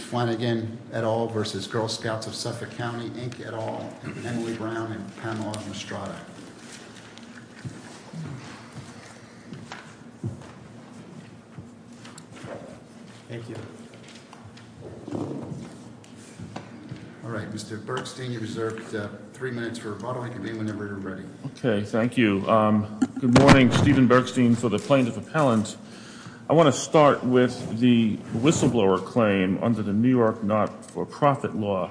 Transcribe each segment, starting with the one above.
Flanagan, et al. v. Girl Scouts of Suffolk County, Inc. et al., Emily Brown, and Pamela Mastrada. Thank you. All right, Mr. Bergstein, you're reserved three minutes for a following debate whenever you're ready. Okay, thank you. Good morning. Stephen Bergstein for the Plaintiff Appellant. I want to start with the whistleblower claim under the New York not-for-profit law.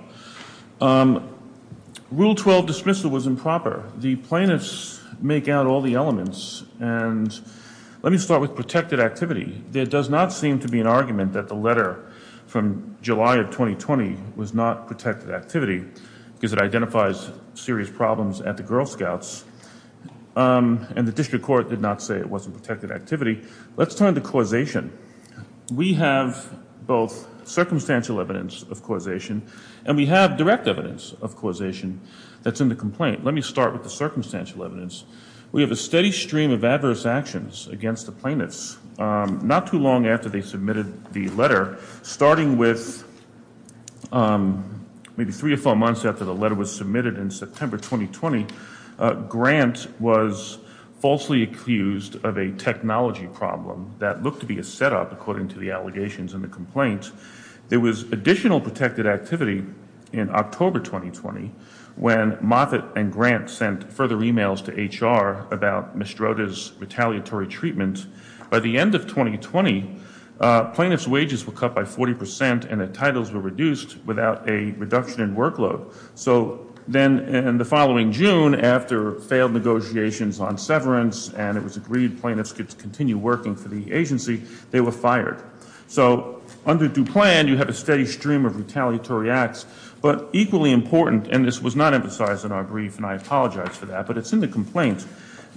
Rule 12 dismissal was improper. The plaintiffs make out all the elements. And let me start with protected activity. There does not seem to be an argument that the letter from July of 2020 was not protected activity because it identifies serious problems at the Girl Scouts. And the district court did not say it wasn't protected activity. Let's turn to causation. We have both circumstantial evidence of causation and we have direct evidence of causation that's in the complaint. Let me start with the circumstantial evidence. We have a steady stream of adverse actions against the plaintiffs. Not too long after they submitted the letter, starting with maybe three or four months after the letter was submitted in September 2020, Grant was falsely accused of a technology problem that looked to be a setup, according to the allegations in the complaint. There was additional protected activity in October 2020 when Moffitt and Grant sent further emails to HR about Mestrota's retaliatory treatment. By the end of 2020, plaintiffs' wages were cut by 40% and their titles were reduced without a reduction in workload. So then in the following June, after failed negotiations on severance and it was agreed plaintiffs could continue working for the agency, they were fired. So under due plan, you have a steady stream of retaliatory acts. But equally important, and this was not emphasized in our brief and I apologize for that, but it's in the complaint.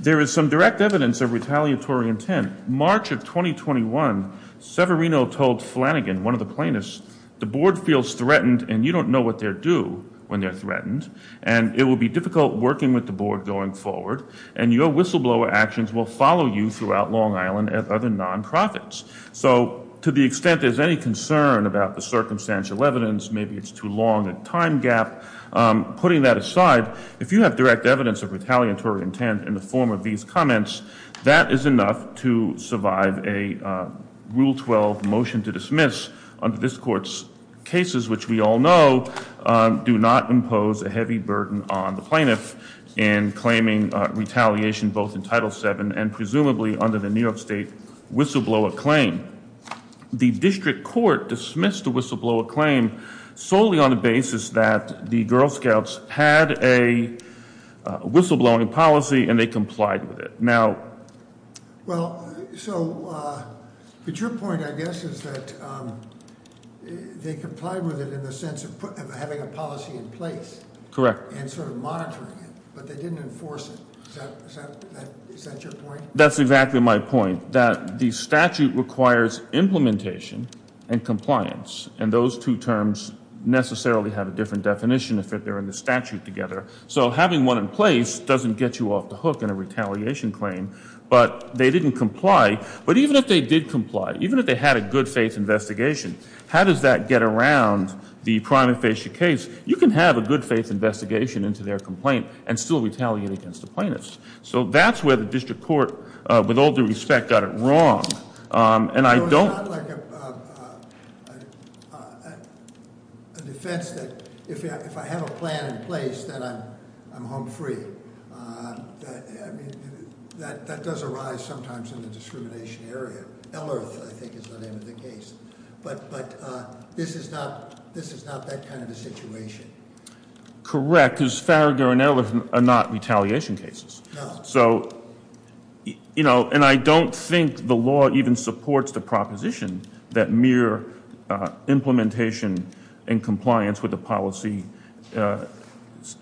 There is some direct evidence of retaliatory intent. March of 2021, Severino told Flanagan, one of the plaintiffs, the board feels threatened and you don't know what they'll do when they're threatened. And it will be difficult working with the board going forward. And your whistleblower actions will follow you throughout Long Island and other non-profits. So to the extent there's any concern about the circumstantial evidence, maybe it's too long a time gap. Putting that aside, if you have direct evidence of retaliatory intent in the form of these comments, that is enough to survive a Rule 12 motion to dismiss under this court's cases, which we all know do not impose a heavy burden on the plaintiff in claiming retaliation, both in Title VII and presumably under the New York State Whistleblower Claim. The district court dismissed the Whistleblower Claim solely on the basis that the Girl Scouts had a whistleblowing policy and they complied with it. Now- Well, so, but your point, I guess, is that they complied with it in the sense of having a policy in place. Correct. And sort of monitoring it, but they didn't enforce it. Is that your point? That's exactly my point, that the statute requires implementation and compliance. And those two terms necessarily have a different definition if they're in the statute together. So having one in place doesn't get you off the hook in a retaliation claim. But they didn't comply. But even if they did comply, even if they had a good faith investigation, how does that get around the prime and facial case? You can have a good faith investigation into their complaint and still retaliate against the plaintiffs. So that's where the district court, with all due respect, got it wrong. And I don't- No, it's not like a defense that if I have a plan in place, then I'm home free. That does arise sometimes in the discrimination area. Farragher and Ellerth, I think, is the name of the case. But this is not that kind of a situation. Correct, because Farragher and Ellerth are not retaliation cases. No. And I don't think the law even supports the proposition that mere implementation and compliance with the policy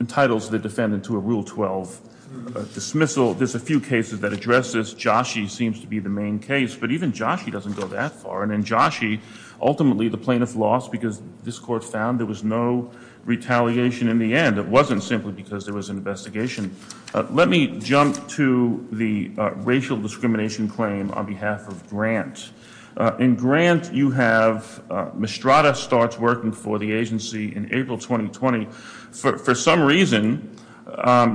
entitles the defendant to a Rule 12 dismissal. There's a few cases that address this. Joshi seems to be the main case. But even Joshi doesn't go that far. And in Joshi, ultimately, the plaintiff lost because this court found there was no retaliation in the end. It wasn't simply because there was an investigation. Let me jump to the racial discrimination claim on behalf of Grant. In Grant, you have Mistrada starts working for the agency in April 2020. For some reason,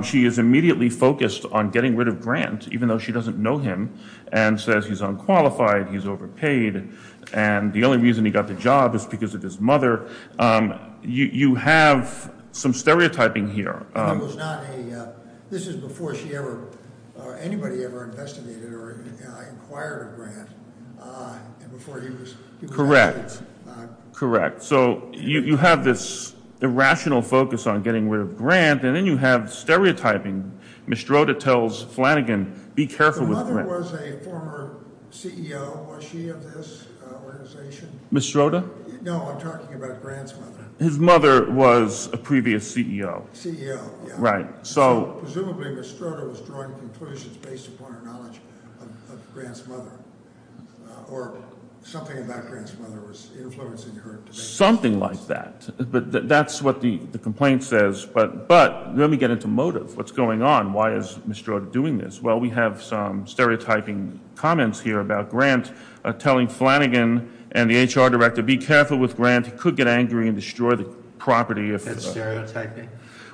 she is immediately focused on getting rid of Grant, even though she doesn't know him, and says he's unqualified, he's overpaid, and the only reason he got the job is because of his mother. You have some stereotyping here. This is before anybody ever investigated or inquired of Grant. Correct. Correct. So you have this irrational focus on getting rid of Grant, and then you have stereotyping. Mistrada tells Flanagan, be careful with Grant. The mother was a former CEO. Was she of this organization? Mistrada? No, I'm talking about Grant's mother. His mother was a previous CEO. CEO, yeah. Right. So presumably, Mistrada was drawing conclusions based upon her knowledge of Grant's mother, or something about Grant's mother was influencing her. Something like that. That's what the complaint says. But let me get into motive. What's going on? Why is Mistrada doing this? Well, we have some stereotyping comments here about Grant, telling Flanagan and the HR director, be careful with Grant. He could get angry and destroy the property. Is that stereotyping?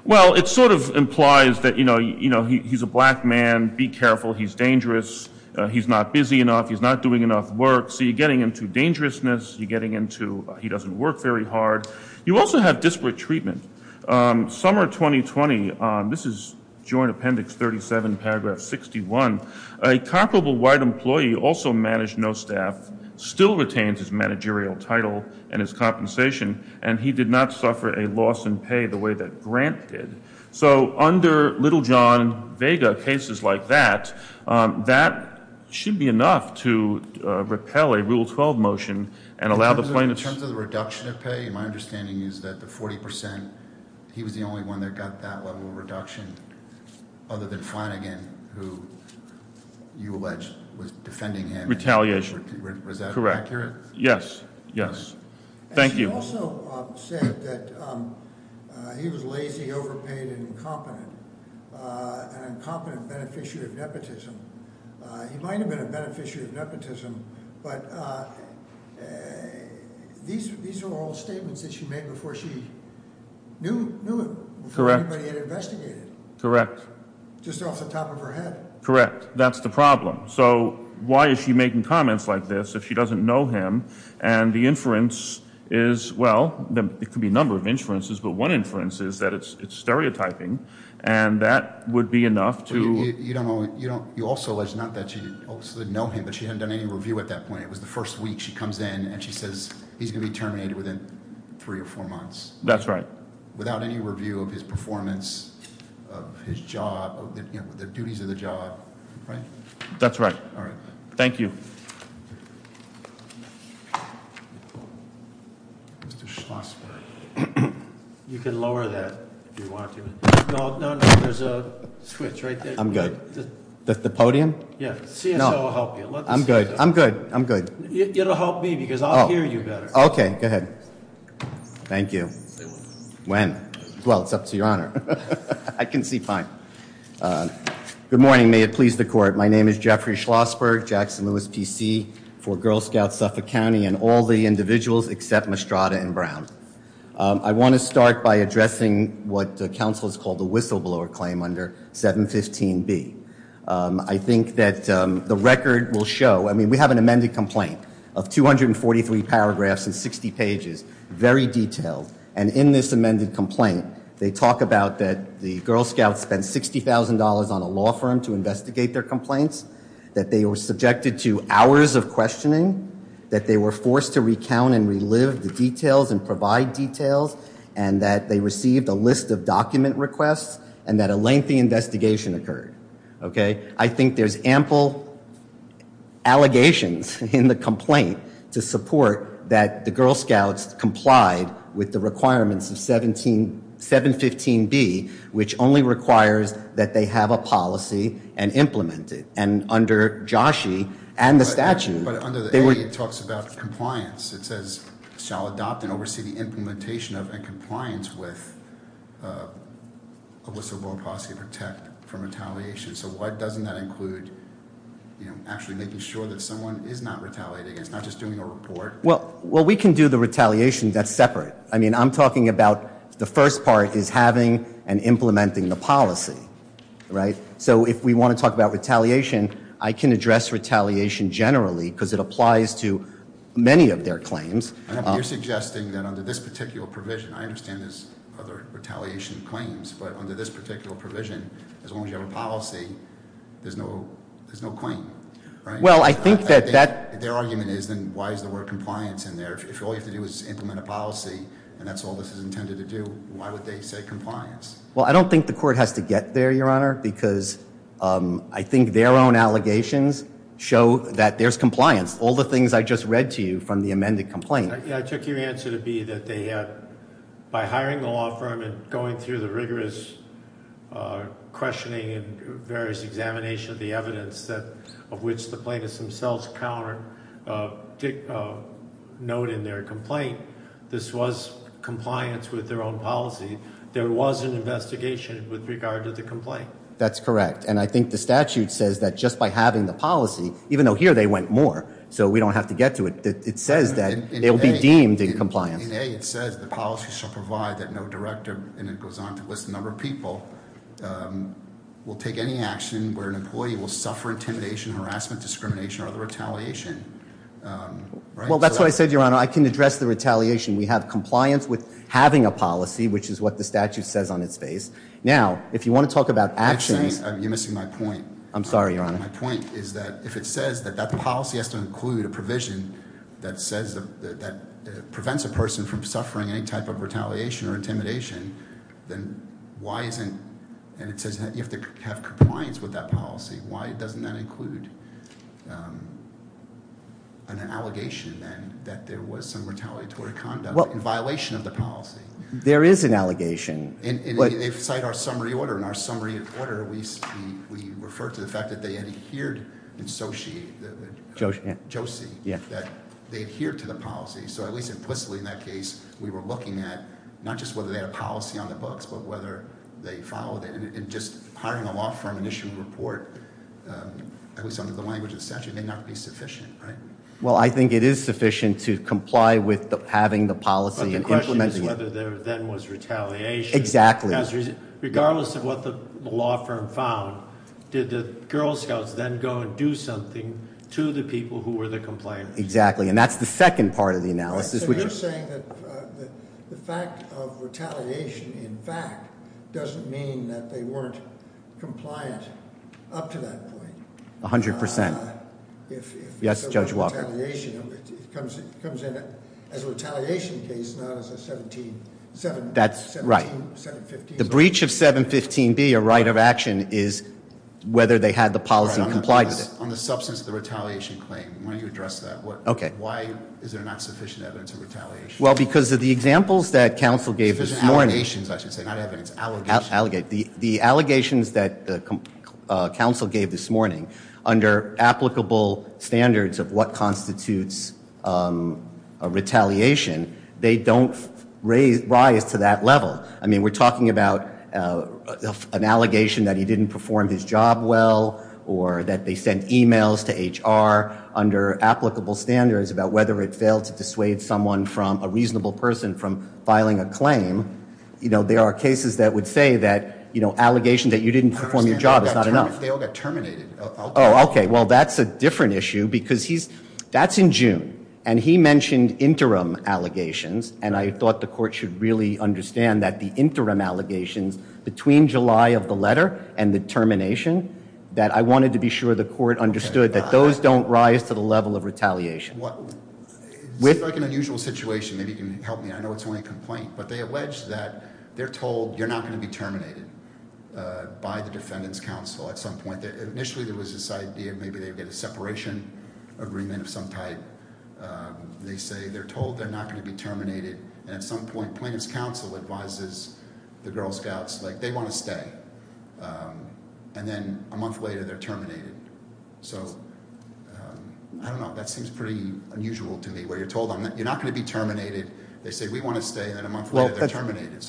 Well, it sort of implies that he's a black man. Be careful. He's dangerous. He's not busy enough. He's not doing enough work. So you're getting into dangerousness. You're getting into he doesn't work very hard. You also have disparate treatment. Summer 2020, this is Joint Appendix 37, Paragraph 61, a comparable white employee, also managed no staff, still retains his managerial title and his compensation, and he did not suffer a loss in pay the way that Grant did. So under little John Vega, cases like that, that should be enough to repel a Rule 12 motion and allow the plaintiffs. In terms of the reduction of pay, my understanding is that the 40%, he was the only one that got that level of reduction other than Flanagan, who you allege was defending him. Retaliation. Was that accurate? Yes. Yes. Thank you. He also said that he was lazy, overpaid, and incompetent, an incompetent beneficiary of nepotism. He might have been a beneficiary of nepotism, but these are all statements that she made before she knew anybody had investigated. Correct. Just off the top of her head. Correct. That's the problem. So why is she making comments like this if she doesn't know him? And the inference is, well, it could be a number of inferences, but one inference is that it's stereotyping, and that would be enough to— You also allege not that she obviously didn't know him, but she hadn't done any review at that point. It was the first week she comes in, and she says he's going to be terminated within three or four months. That's right. Without any review of his performance, of his job, the duties of the job, right? That's right. All right. Thank you. Mr. Schlossberg. You can lower that if you want to. No, no, no. There's a switch right there. I'm good. The podium? Yeah. CSO will help you. I'm good. I'm good. I'm good. It'll help me because I'll hear you better. Okay. Go ahead. Thank you. When? Well, it's up to Your Honor. I can see fine. Good morning. Good morning. May it please the Court. My name is Jeffrey Schlossberg, Jackson-Lewis PC for Girl Scout Suffolk County and all the individuals except Mastrada and Brown. I want to start by addressing what the counsel has called the whistleblower claim under 715B. I think that the record will show, I mean, we have an amended complaint of 243 paragraphs and 60 pages, very detailed. And in this amended complaint, they talk about that the Girl Scouts spent $60,000 on a law firm to investigate their complaints, that they were subjected to hours of questioning, that they were forced to recount and relive the details and provide details, and that they received a list of document requests and that a lengthy investigation occurred. Okay? I think there's ample allegations in the complaint to support that the Girl Scouts complied with the requirements of 715B, which only requires that they have a policy and implement it. And under Joshie and the statute, they were- But under the A, it talks about compliance. It says, shall adopt and oversee the implementation of and compliance with a whistleblower policy to protect from retaliation. So why doesn't that include, you know, actually making sure that someone is not retaliating and is not just doing a report? Well, we can do the retaliation that's separate. I mean, I'm talking about the first part is having and implementing the policy, right? So if we want to talk about retaliation, I can address retaliation generally because it applies to many of their claims. You're suggesting that under this particular provision, I understand there's other retaliation claims, but under this particular provision, as long as you have a policy, there's no claim, right? Well, I think that that- If their argument is, then why is the word compliance in there? If all you have to do is implement a policy and that's all this is intended to do, why would they say compliance? Well, I don't think the court has to get there, Your Honor, because I think their own allegations show that there's compliance. All the things I just read to you from the amended complaint- I took your answer to be that they had, by hiring the law firm and going through the rigorous questioning and various examination of the evidence of which the plaintiffs themselves counter-note in their complaint, this was compliance with their own policy, there was an investigation with regard to the complaint. That's correct, and I think the statute says that just by having the policy, even though here they went more, so we don't have to get to it, it says that it will be deemed in compliance. In A, it says the policy shall provide that no director, and it goes on to list the number of people, will take any action where an employee will suffer intimidation, harassment, discrimination, or other retaliation. Well, that's what I said, Your Honor, I can address the retaliation. We have compliance with having a policy, which is what the statute says on its face. Now, if you want to talk about actions- I'm sorry, you're missing my point. I'm sorry, Your Honor. My point is that if it says that that policy has to include a provision that prevents a person from suffering any type of retaliation or intimidation, then why isn't, and it says that you have to have compliance with that policy, why doesn't that include an allegation, then, that there was some retaliatory conduct in violation of the policy? There is an allegation. In our summary order, we refer to the fact that they adhered to the policy, so at least implicitly in that case, we were looking at not just whether they had a policy on the books, but whether they followed it. And just hiring a law firm and issuing a report, at least under the language of the statute, may not be sufficient, right? Well, I think it is sufficient to comply with having the policy and implementing- But the question is whether there then was retaliation. Exactly. Because regardless of what the law firm found, did the Girl Scouts then go and do something to the people who were the complainants? Exactly, and that's the second part of the analysis. So you're saying that the fact of retaliation, in fact, doesn't mean that they weren't compliant up to that point? 100%. If there was retaliation, it comes in as a retaliation case, not as a 715- That's right. The breach of 715B, a right of action, is whether they had the policy and complied with it. On the substance of the retaliation claim, why don't you address that? Okay. Why is there not sufficient evidence of retaliation? Well, because of the examples that counsel gave this morning- Allegations, I should say, not evidence, allegations. The allegations that counsel gave this morning, under applicable standards of what constitutes a retaliation, they don't rise to that level. I mean, we're talking about an allegation that he didn't perform his job well, or that they sent emails to HR under applicable standards about whether it failed to dissuade someone from, a reasonable person, from filing a claim. You know, there are cases that would say that, you know, allegations that you didn't perform your job is not enough. They all got terminated. Oh, okay. Well, that's a different issue, because he's- that's in June. And he mentioned interim allegations, and I thought the court should really understand that the interim allegations between July of the letter and the termination, that I wanted to be sure the court understood that those don't rise to the level of retaliation. Well, it seems like an unusual situation. Maybe you can help me. I know it's only a complaint, but they allege that they're told you're not going to be terminated by the defendant's counsel at some point. Initially, there was this idea, maybe they would get a separation agreement of some type. They say they're told they're not going to be terminated, and at some point, plaintiff's counsel advises the Girl Scouts, like, they want to stay. And then a month later, they're terminated. So, I don't know, that seems pretty unusual to me, where you're told you're not going to be terminated. They say, we want to stay, and then a month later, they're terminated.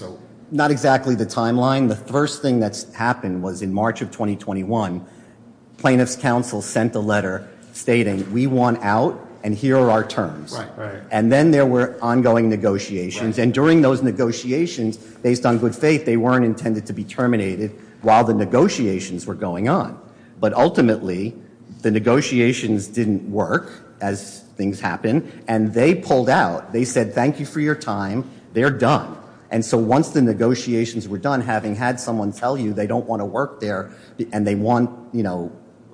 Not exactly the timeline. The first thing that's happened was in March of 2021, plaintiff's counsel sent a letter stating, we want out, and here are our terms. And then there were ongoing negotiations. And during those negotiations, based on good faith, they weren't intended to be terminated while the negotiations were going on. But ultimately, the negotiations didn't work, as things happen, and they pulled out. They said, thank you for your time. They're done. And so, once the negotiations were done, having had someone tell you they don't want to work there, and they want ransom.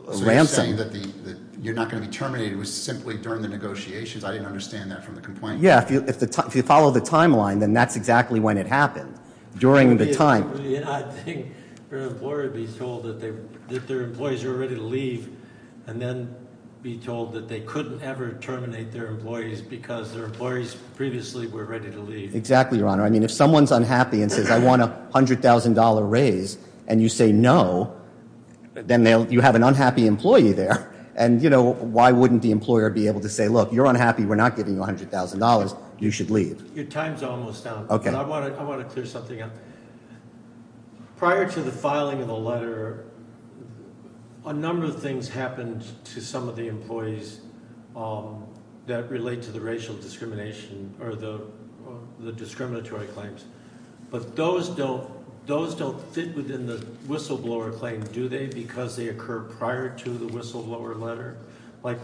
So, you're saying that you're not going to be terminated, it was simply during the negotiations? I didn't understand that from the complaint. Yeah, if you follow the timeline, then that's exactly when it happened. During the time. I think their employer would be told that their employees are ready to leave, and then be told that they couldn't ever terminate their employees because their employees previously were ready to leave. Exactly, Your Honor. I mean, if someone's unhappy and says, I want a $100,000 raise, and you say no, then you have an unhappy employee there. And why wouldn't the employer be able to say, look, you're unhappy, we're not giving you $100,000, you should leave. Your time's almost up. Okay. I want to clear something up. Prior to the filing of the letter, a number of things happened to some of the employees that relate to the racial discrimination or the discriminatory claims. But those don't fit within the whistleblower claim, do they? Because they occur prior to the whistleblower letter? Like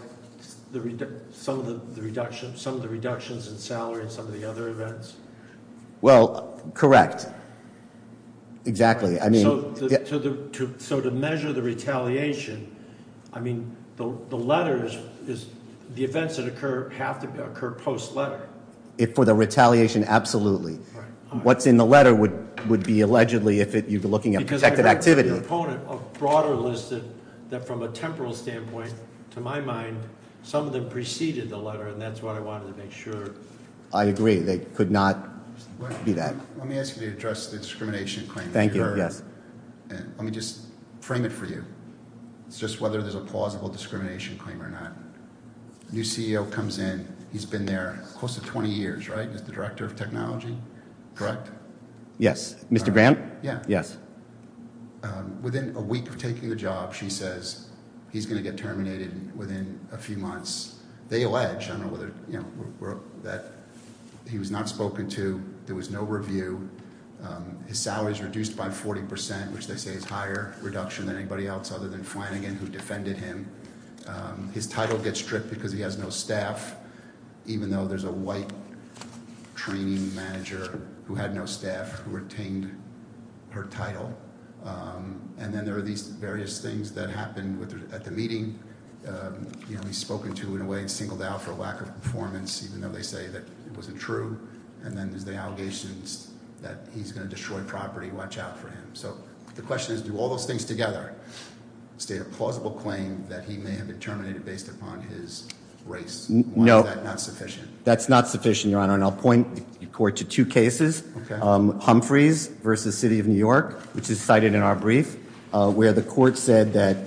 some of the reductions in salary in some of the other events? Well, correct. Exactly, I mean- So to measure the retaliation, I mean, the letters, the events that occur have to occur post-letter. If for the retaliation, absolutely. Right. What's in the letter would be allegedly if you're looking at protected activity. Because I heard the opponent of broader listed that from a temporal standpoint, to my mind, some of them preceded the letter, and that's what I wanted to make sure. I agree, they could not be that. Let me ask you to address the discrimination claims. Thank you, yes. Let me just frame it for you. It's just whether there's a plausible discrimination claim or not. New CEO comes in. He's been there close to 20 years, right? He's the director of technology, correct? Yes, Mr. Graham? Yeah. Yes. Within a week of taking the job, she says he's going to get terminated within a few months. They allege, I don't know whether, you know, that he was not spoken to. There was no review. His salary is reduced by 40%, which they say is a higher reduction than anybody else other than Flanagan, who defended him. His title gets stripped because he has no staff, even though there's a white training manager who had no staff who retained her title. And then there are these various things that happened at the meeting. You know, he's spoken to in a way and singled out for lack of performance, even though they say that it wasn't true. And then there's the allegations that he's going to destroy property. Watch out for him. So the question is, do all those things together state a plausible claim that he may have been terminated based upon his race? No. Why is that not sufficient? That's not sufficient, Your Honor, and I'll point the court to two cases. Humphreys v. City of New York, which is cited in our brief, where the court said that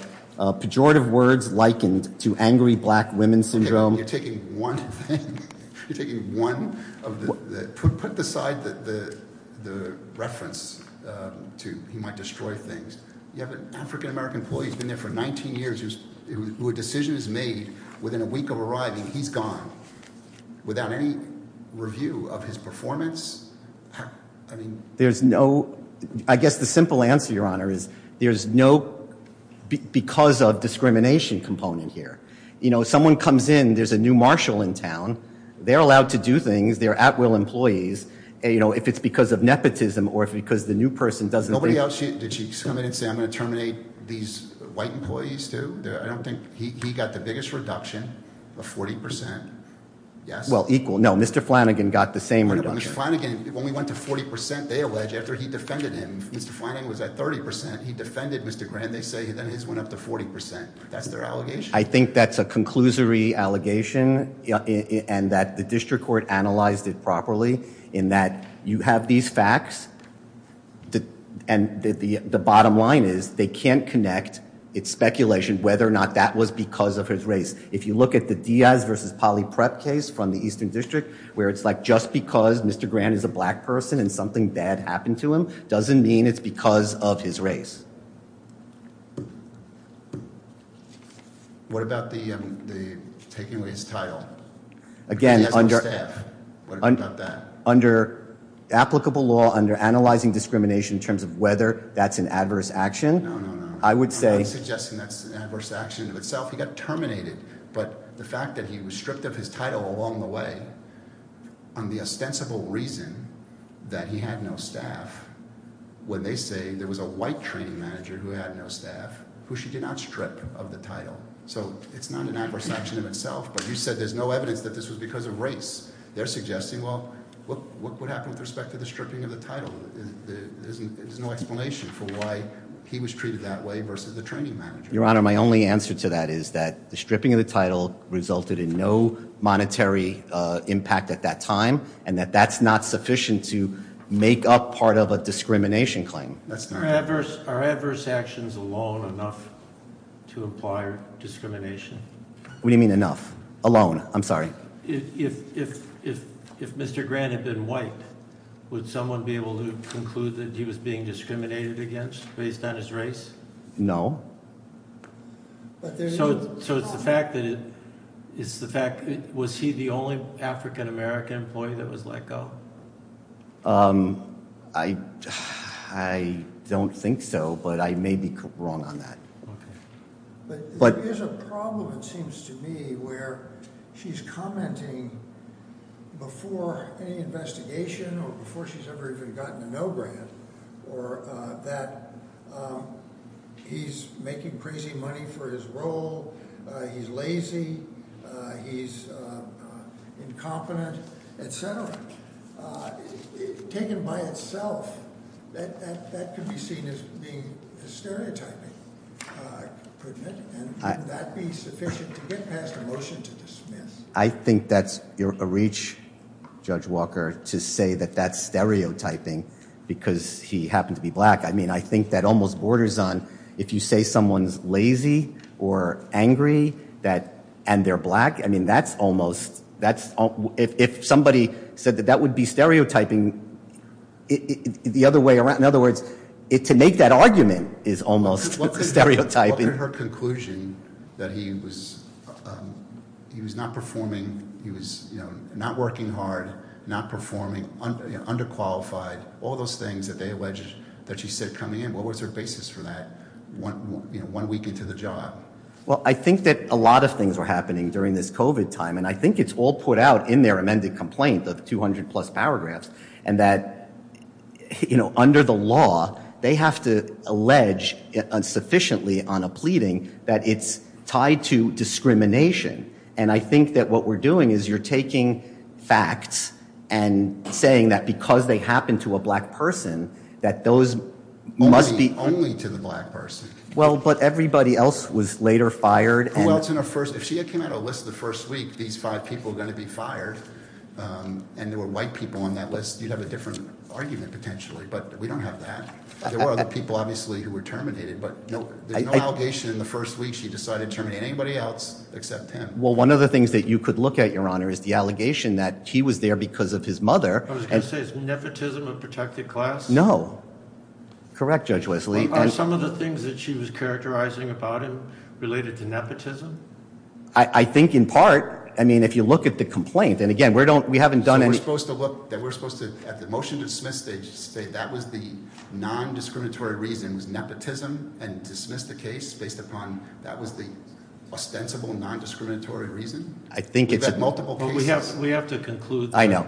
pejorative words likened to angry black women syndrome. You're taking one thing, you're taking one of the, put aside the reference to he might destroy things. You have an African American employee who's been there for 19 years, who a decision is made within a week of arriving, he's gone. Without any review of his performance, I mean. There's no, I guess the simple answer, Your Honor, is there's no because of discrimination component here. Someone comes in, there's a new marshal in town. They're allowed to do things. They're at will employees. If it's because of nepotism or if it's because the new person doesn't think- Nobody else, did she come in and say I'm going to terminate these white employees too? I don't think, he got the biggest reduction of 40%. Yes? Well, equal. No, Mr. Flanagan got the same reduction. No, but Mr. Flanagan, when we went to 40%, they allege after he defended him, Mr. Flanagan was at 30%. He defended Mr. Grant. They say then his went up to 40%. That's their allegation? I think that's a conclusory allegation and that the district court analyzed it properly in that you have these facts and the bottom line is they can't connect its speculation whether or not that was because of his race. If you look at the Diaz versus Poly Prep case from the Eastern District, where it's like just because Mr. Grant is a black person and something bad happened to him, doesn't mean it's because of his race. What about the taking away his title? Again, under- What about that? Under applicable law, under analyzing discrimination in terms of whether that's an adverse action- No, no, no. I would say- I'm not suggesting that's an adverse action in itself. He got terminated, but the fact that he was stripped of his title along the way on the ostensible reason that he had no staff, when they say there was a white training manager who had no staff, who she did not strip of the title, so it's not an adverse action in itself, but you said there's no evidence that this was because of race. They're suggesting, well, what happened with respect to the stripping of the title? There's no explanation for why he was treated that way versus the training manager. Your Honor, my only answer to that is that the stripping of the title resulted in no monetary impact at that time and that that's not sufficient to make up part of a discrimination claim. Are adverse actions alone enough to imply discrimination? What do you mean enough? Alone. I'm sorry. If Mr. Grant had been white, would someone be able to conclude that he was being discriminated against based on his race? No. So it's the fact that it was he the only African-American employee that was let go? I don't think so, but I may be wrong on that. But there is a problem, it seems to me, where she's commenting before any investigation or before she's ever even gotten a no grant or that he's making crazy money for his role, he's lazy, he's incompetent, et cetera. Taken by itself, that could be seen as being stereotyping, couldn't it? And would that be sufficient to get past a motion to dismiss? I think that's a reach, Judge Walker, to say that that's stereotyping because he happened to be black. I mean, I think that almost borders on if you say someone's lazy or angry and they're black, I mean, that's almost, if somebody said that that would be stereotyping the other way around. In other words, to make that argument is almost stereotyping. In her conclusion that he was not performing, he was not working hard, not performing, underqualified, all those things that they alleged that she said coming in, what was her basis for that one week into the job? Well, I think that a lot of things were happening during this COVID time, and I think it's all put out in their amended complaint, the 200 plus paragraphs, and that under the law, they have to allege insufficiently on a pleading that it's tied to discrimination. And I think that what we're doing is you're taking facts and saying that because they happened to a black person, that those must be- Only to the black person. Well, but everybody else was later fired. Who else in her first, if she had come out of a list the first week, these five people were going to be fired, and there were white people on that list, you'd have a different argument potentially, but we don't have that. There were other people, obviously, who were terminated, but there's no allegation in the first week she decided to terminate anybody else except him. Well, one of the things that you could look at, Your Honor, is the allegation that he was there because of his mother. I was going to say, is nepotism a protected class? No. Correct, Judge Wesley. Are some of the things that she was characterizing about him related to nepotism? I think in part, I mean, if you look at the complaint, and again, we haven't done any- So we're supposed to look, we're supposed to, at the motion to dismiss stage, say that was the non-discriminatory reason was nepotism, and dismiss the case based upon that was the ostensible non-discriminatory reason? I think it's- We've had multiple cases- We have to conclude- I know.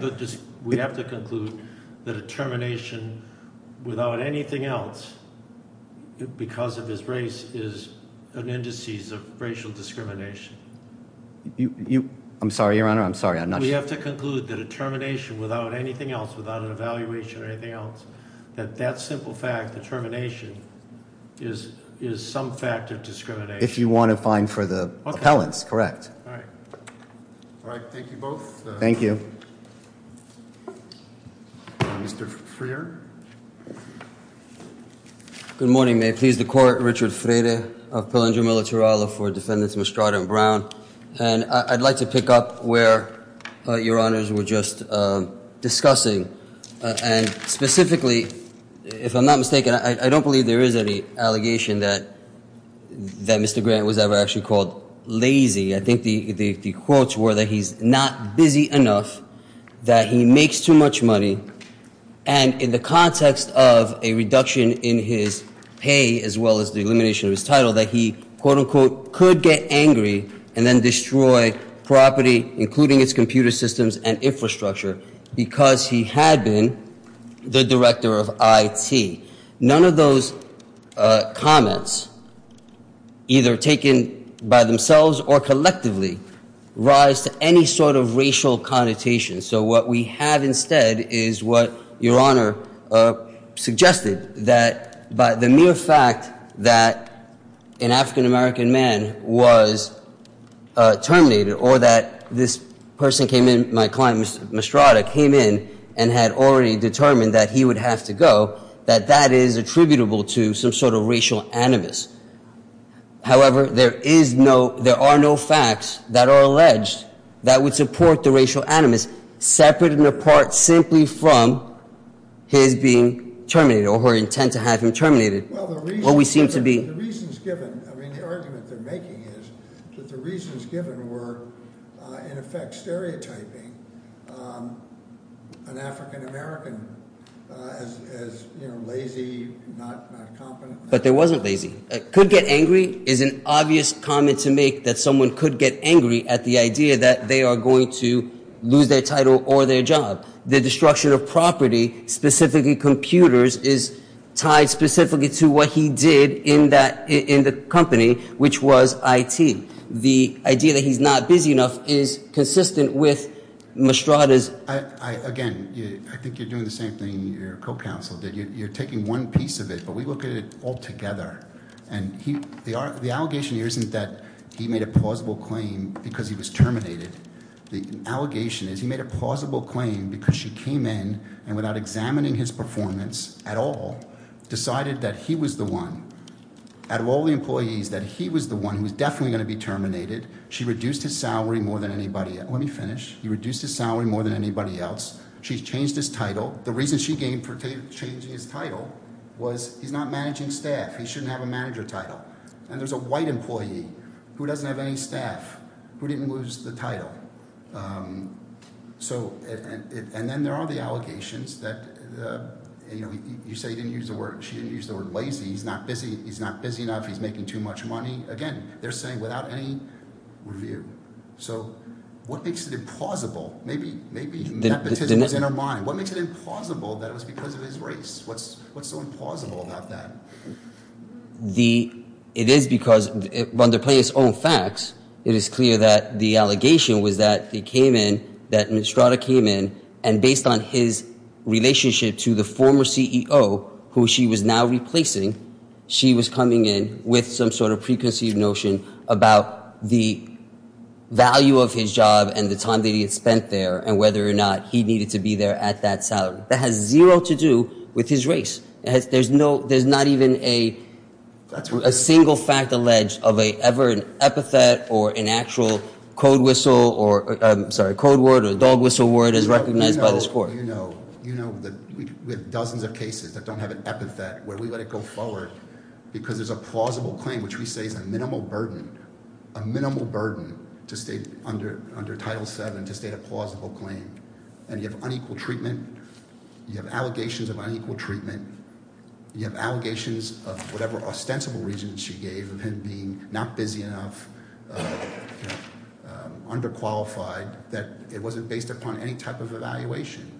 I'm sorry, Your Honor, I'm sorry, I'm not sure. We have to conclude the termination without anything else, without an evaluation or anything else, that that simple fact, the termination, is some fact of discrimination. If you want to find for the appellants, correct. All right. All right, thank you both. Thank you. Mr. Freer. Good morning. May it please the Court. Richard Freire of Palinger Militarado for Defendants Mostrada and Brown. And I'd like to pick up where Your Honors were just discussing, and specifically, if I'm not mistaken, I don't believe there is any allegation that Mr. Grant was ever actually called lazy. I think the quotes were that he's not busy enough, that he makes too much money, and in the context of a reduction in his pay as well as the elimination of his title, that he, quote-unquote, could get angry and then destroy property, including its computer systems and infrastructure, because he had been the director of IT. None of those comments, either taken by themselves or collectively, rise to any sort of racial connotation. So what we have instead is what Your Honor suggested, that by the mere fact that an African-American man was terminated or that this person came in, my client, Mostrada, came in and had already determined that he would have to go, that that is attributable to some sort of racial animus. However, there are no facts that are alleged that would support the racial animus, separate and apart simply from his being terminated or her intent to have him terminated. Well, the reasons given, I mean, the argument they're making is that the reasons given were, in effect, stereotyping an African-American as lazy, not competent. But there wasn't lazy. Could get angry is an obvious comment to make, that someone could get angry at the idea that they are going to lose their title or their job. The destruction of property, specifically computers, is tied specifically to what he did in the company, which was IT. The idea that he's not busy enough is consistent with Mostrada's- Again, I think you're doing the same thing your co-counsel did. You're taking one piece of it, but we look at it all together. And the allegation here isn't that he made a plausible claim because he was terminated. The allegation is he made a plausible claim because she came in and, without examining his performance at all, decided that he was the one, out of all the employees, that he was the one who was definitely going to be terminated. She reduced his salary more than anybody else. Let me finish. He reduced his salary more than anybody else. She's changed his title. The reason she came for changing his title was he's not managing staff. He shouldn't have a manager title. And there's a white employee who doesn't have any staff who didn't lose the title. And then there are the allegations that you say she didn't use the word lazy. He's not busy. He's not busy enough. He's making too much money. Again, they're saying without any review. So what makes it implausible? Maybe nepotism is in her mind. What makes it implausible that it was because of his race? What's so implausible about that? It is because, under Plaintiff's own facts, it is clear that the allegation was that he came in, that Mistrada came in, and based on his relationship to the former CEO, who she was now replacing, she was coming in with some sort of preconceived notion about the value of his job and the time that he had spent there and whether or not he needed to be there at that salary. That has zero to do with his race. There's not even a single fact alleged of ever an epithet or an actual codeword or dog whistle word as recognized by this court. So you know that we have dozens of cases that don't have an epithet where we let it go forward because there's a plausible claim, which we say is a minimal burden, a minimal burden to state under Title VII to state a plausible claim. And you have unequal treatment. You have allegations of unequal treatment. You have allegations of whatever ostensible reasons she gave of him being not busy enough, underqualified, that it wasn't based upon any type of evaluation.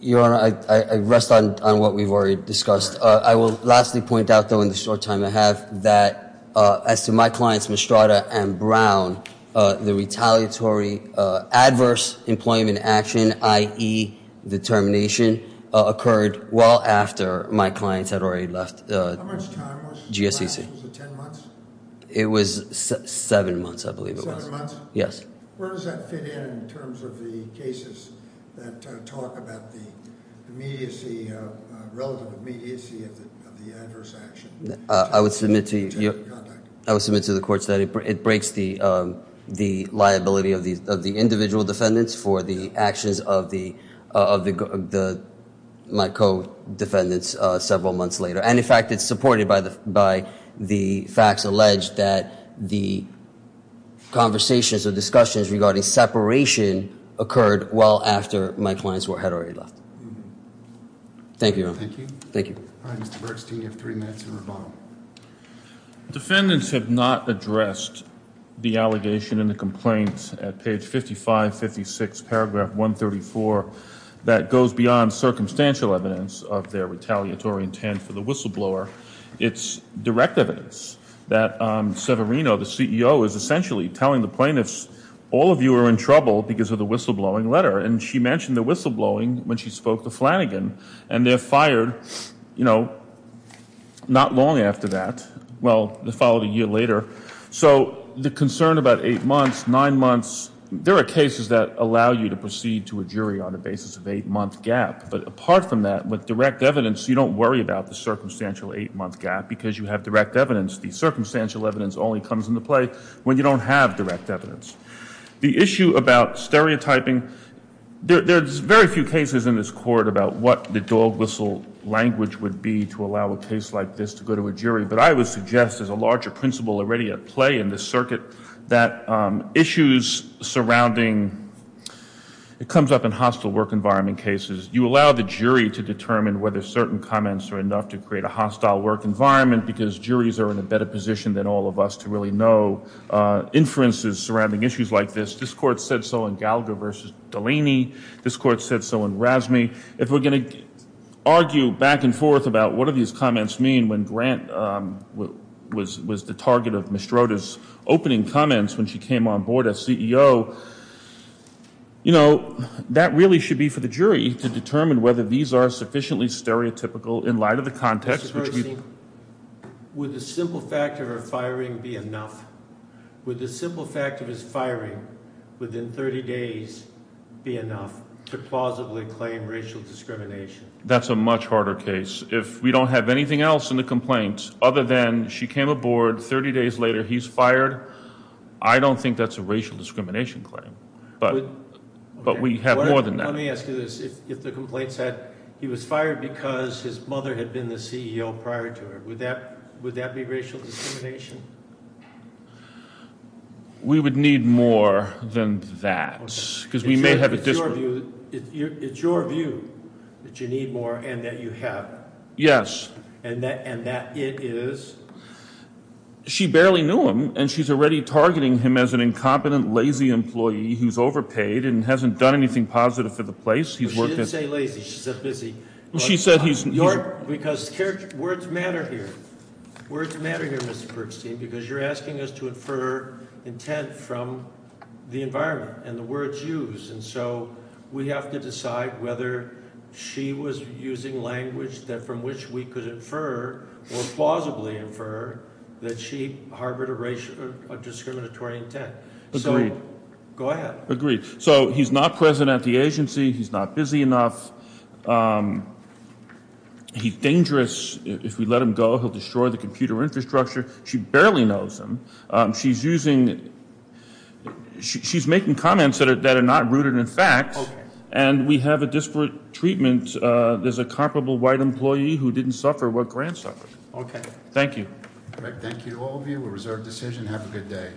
Your Honor, I rest on what we've already discussed. I will lastly point out, though, in the short time I have, that as to my clients Mistrada and Brown, the retaliatory adverse employment action, i.e. the termination, occurred well after my clients had already left GSEC. How much time was it? GSEC. Was it ten months? It was seven months, I believe it was. Yes. Where does that fit in in terms of the cases that talk about the relative immediacy of the adverse action? I would submit to the court that it breaks the liability of the individual defendants for the actions of my co-defendants several months later. And, in fact, it's supported by the facts alleged that the conversations or discussions regarding separation occurred well after my clients had already left. Thank you, Your Honor. Thank you. Thank you. All right, Mr. Bergstein, you have three minutes to rebuttal. Defendants have not addressed the allegation in the complaint at page 5556, paragraph 134, that goes beyond circumstantial evidence of their retaliatory intent for the whistleblower. It's direct evidence that Severino, the CEO, is essentially telling the plaintiffs, all of you are in trouble because of the whistleblowing letter. And she mentioned the whistleblowing when she spoke to Flanagan. And they're fired, you know, not long after that. Well, the following year later. So the concern about eight months, nine months, there are cases that allow you to proceed to a jury on the basis of eight-month gap. But apart from that, with direct evidence, you don't worry about the circumstantial eight-month gap because you have direct evidence. The circumstantial evidence only comes into play when you don't have direct evidence. The issue about stereotyping, there's very few cases in this court about what the dog whistle language would be to allow a case like this to go to a jury. But I would suggest there's a larger principle already at play in this circuit, that issues surrounding, it comes up in hostile work environment cases. You allow the jury to determine whether certain comments are enough to create a hostile work environment because juries are in a better position than all of us to really know inferences surrounding issues like this. This court said so in Gallagher v. Delaney. This court said so in Razmi. If we're going to argue back and forth about what do these comments mean when Grant was the target of Mestrota's opening comments when she came on board as CEO, you know, that really should be for the jury to determine whether these are sufficiently stereotypical in light of the context. Would the simple fact of her firing be enough? Would the simple fact of his firing within 30 days be enough to plausibly claim racial discrimination? That's a much harder case. If we don't have anything else in the complaint other than she came aboard, 30 days later he's fired, I don't think that's a racial discrimination claim. But we have more than that. Let me ask you this. If the complaint said he was fired because his mother had been the CEO prior to her, would that be racial discrimination? We would need more than that. It's your view that you need more and that you have. Yes. And that it is? She barely knew him, and she's already targeting him as an incompetent, lazy employee who's overpaid and hasn't done anything positive for the place. She didn't say lazy. She said busy. She said he's- Because words matter here. Words matter here, Mr. Bergstein, because you're asking us to infer intent from the environment and the words used. And so we have to decide whether she was using language from which we could infer or plausibly infer that she harbored a discriminatory intent. Agreed. Go ahead. Agreed. So he's not present at the agency. He's not busy enough. He's dangerous. If we let him go, he'll destroy the computer infrastructure. She barely knows him. She's using-she's making comments that are not rooted in fact. Okay. And we have a disparate treatment. There's a comparable white employee who didn't suffer what Grant suffered. Okay. Thank you. Thank you to all of you. A reserved decision. Have a good day.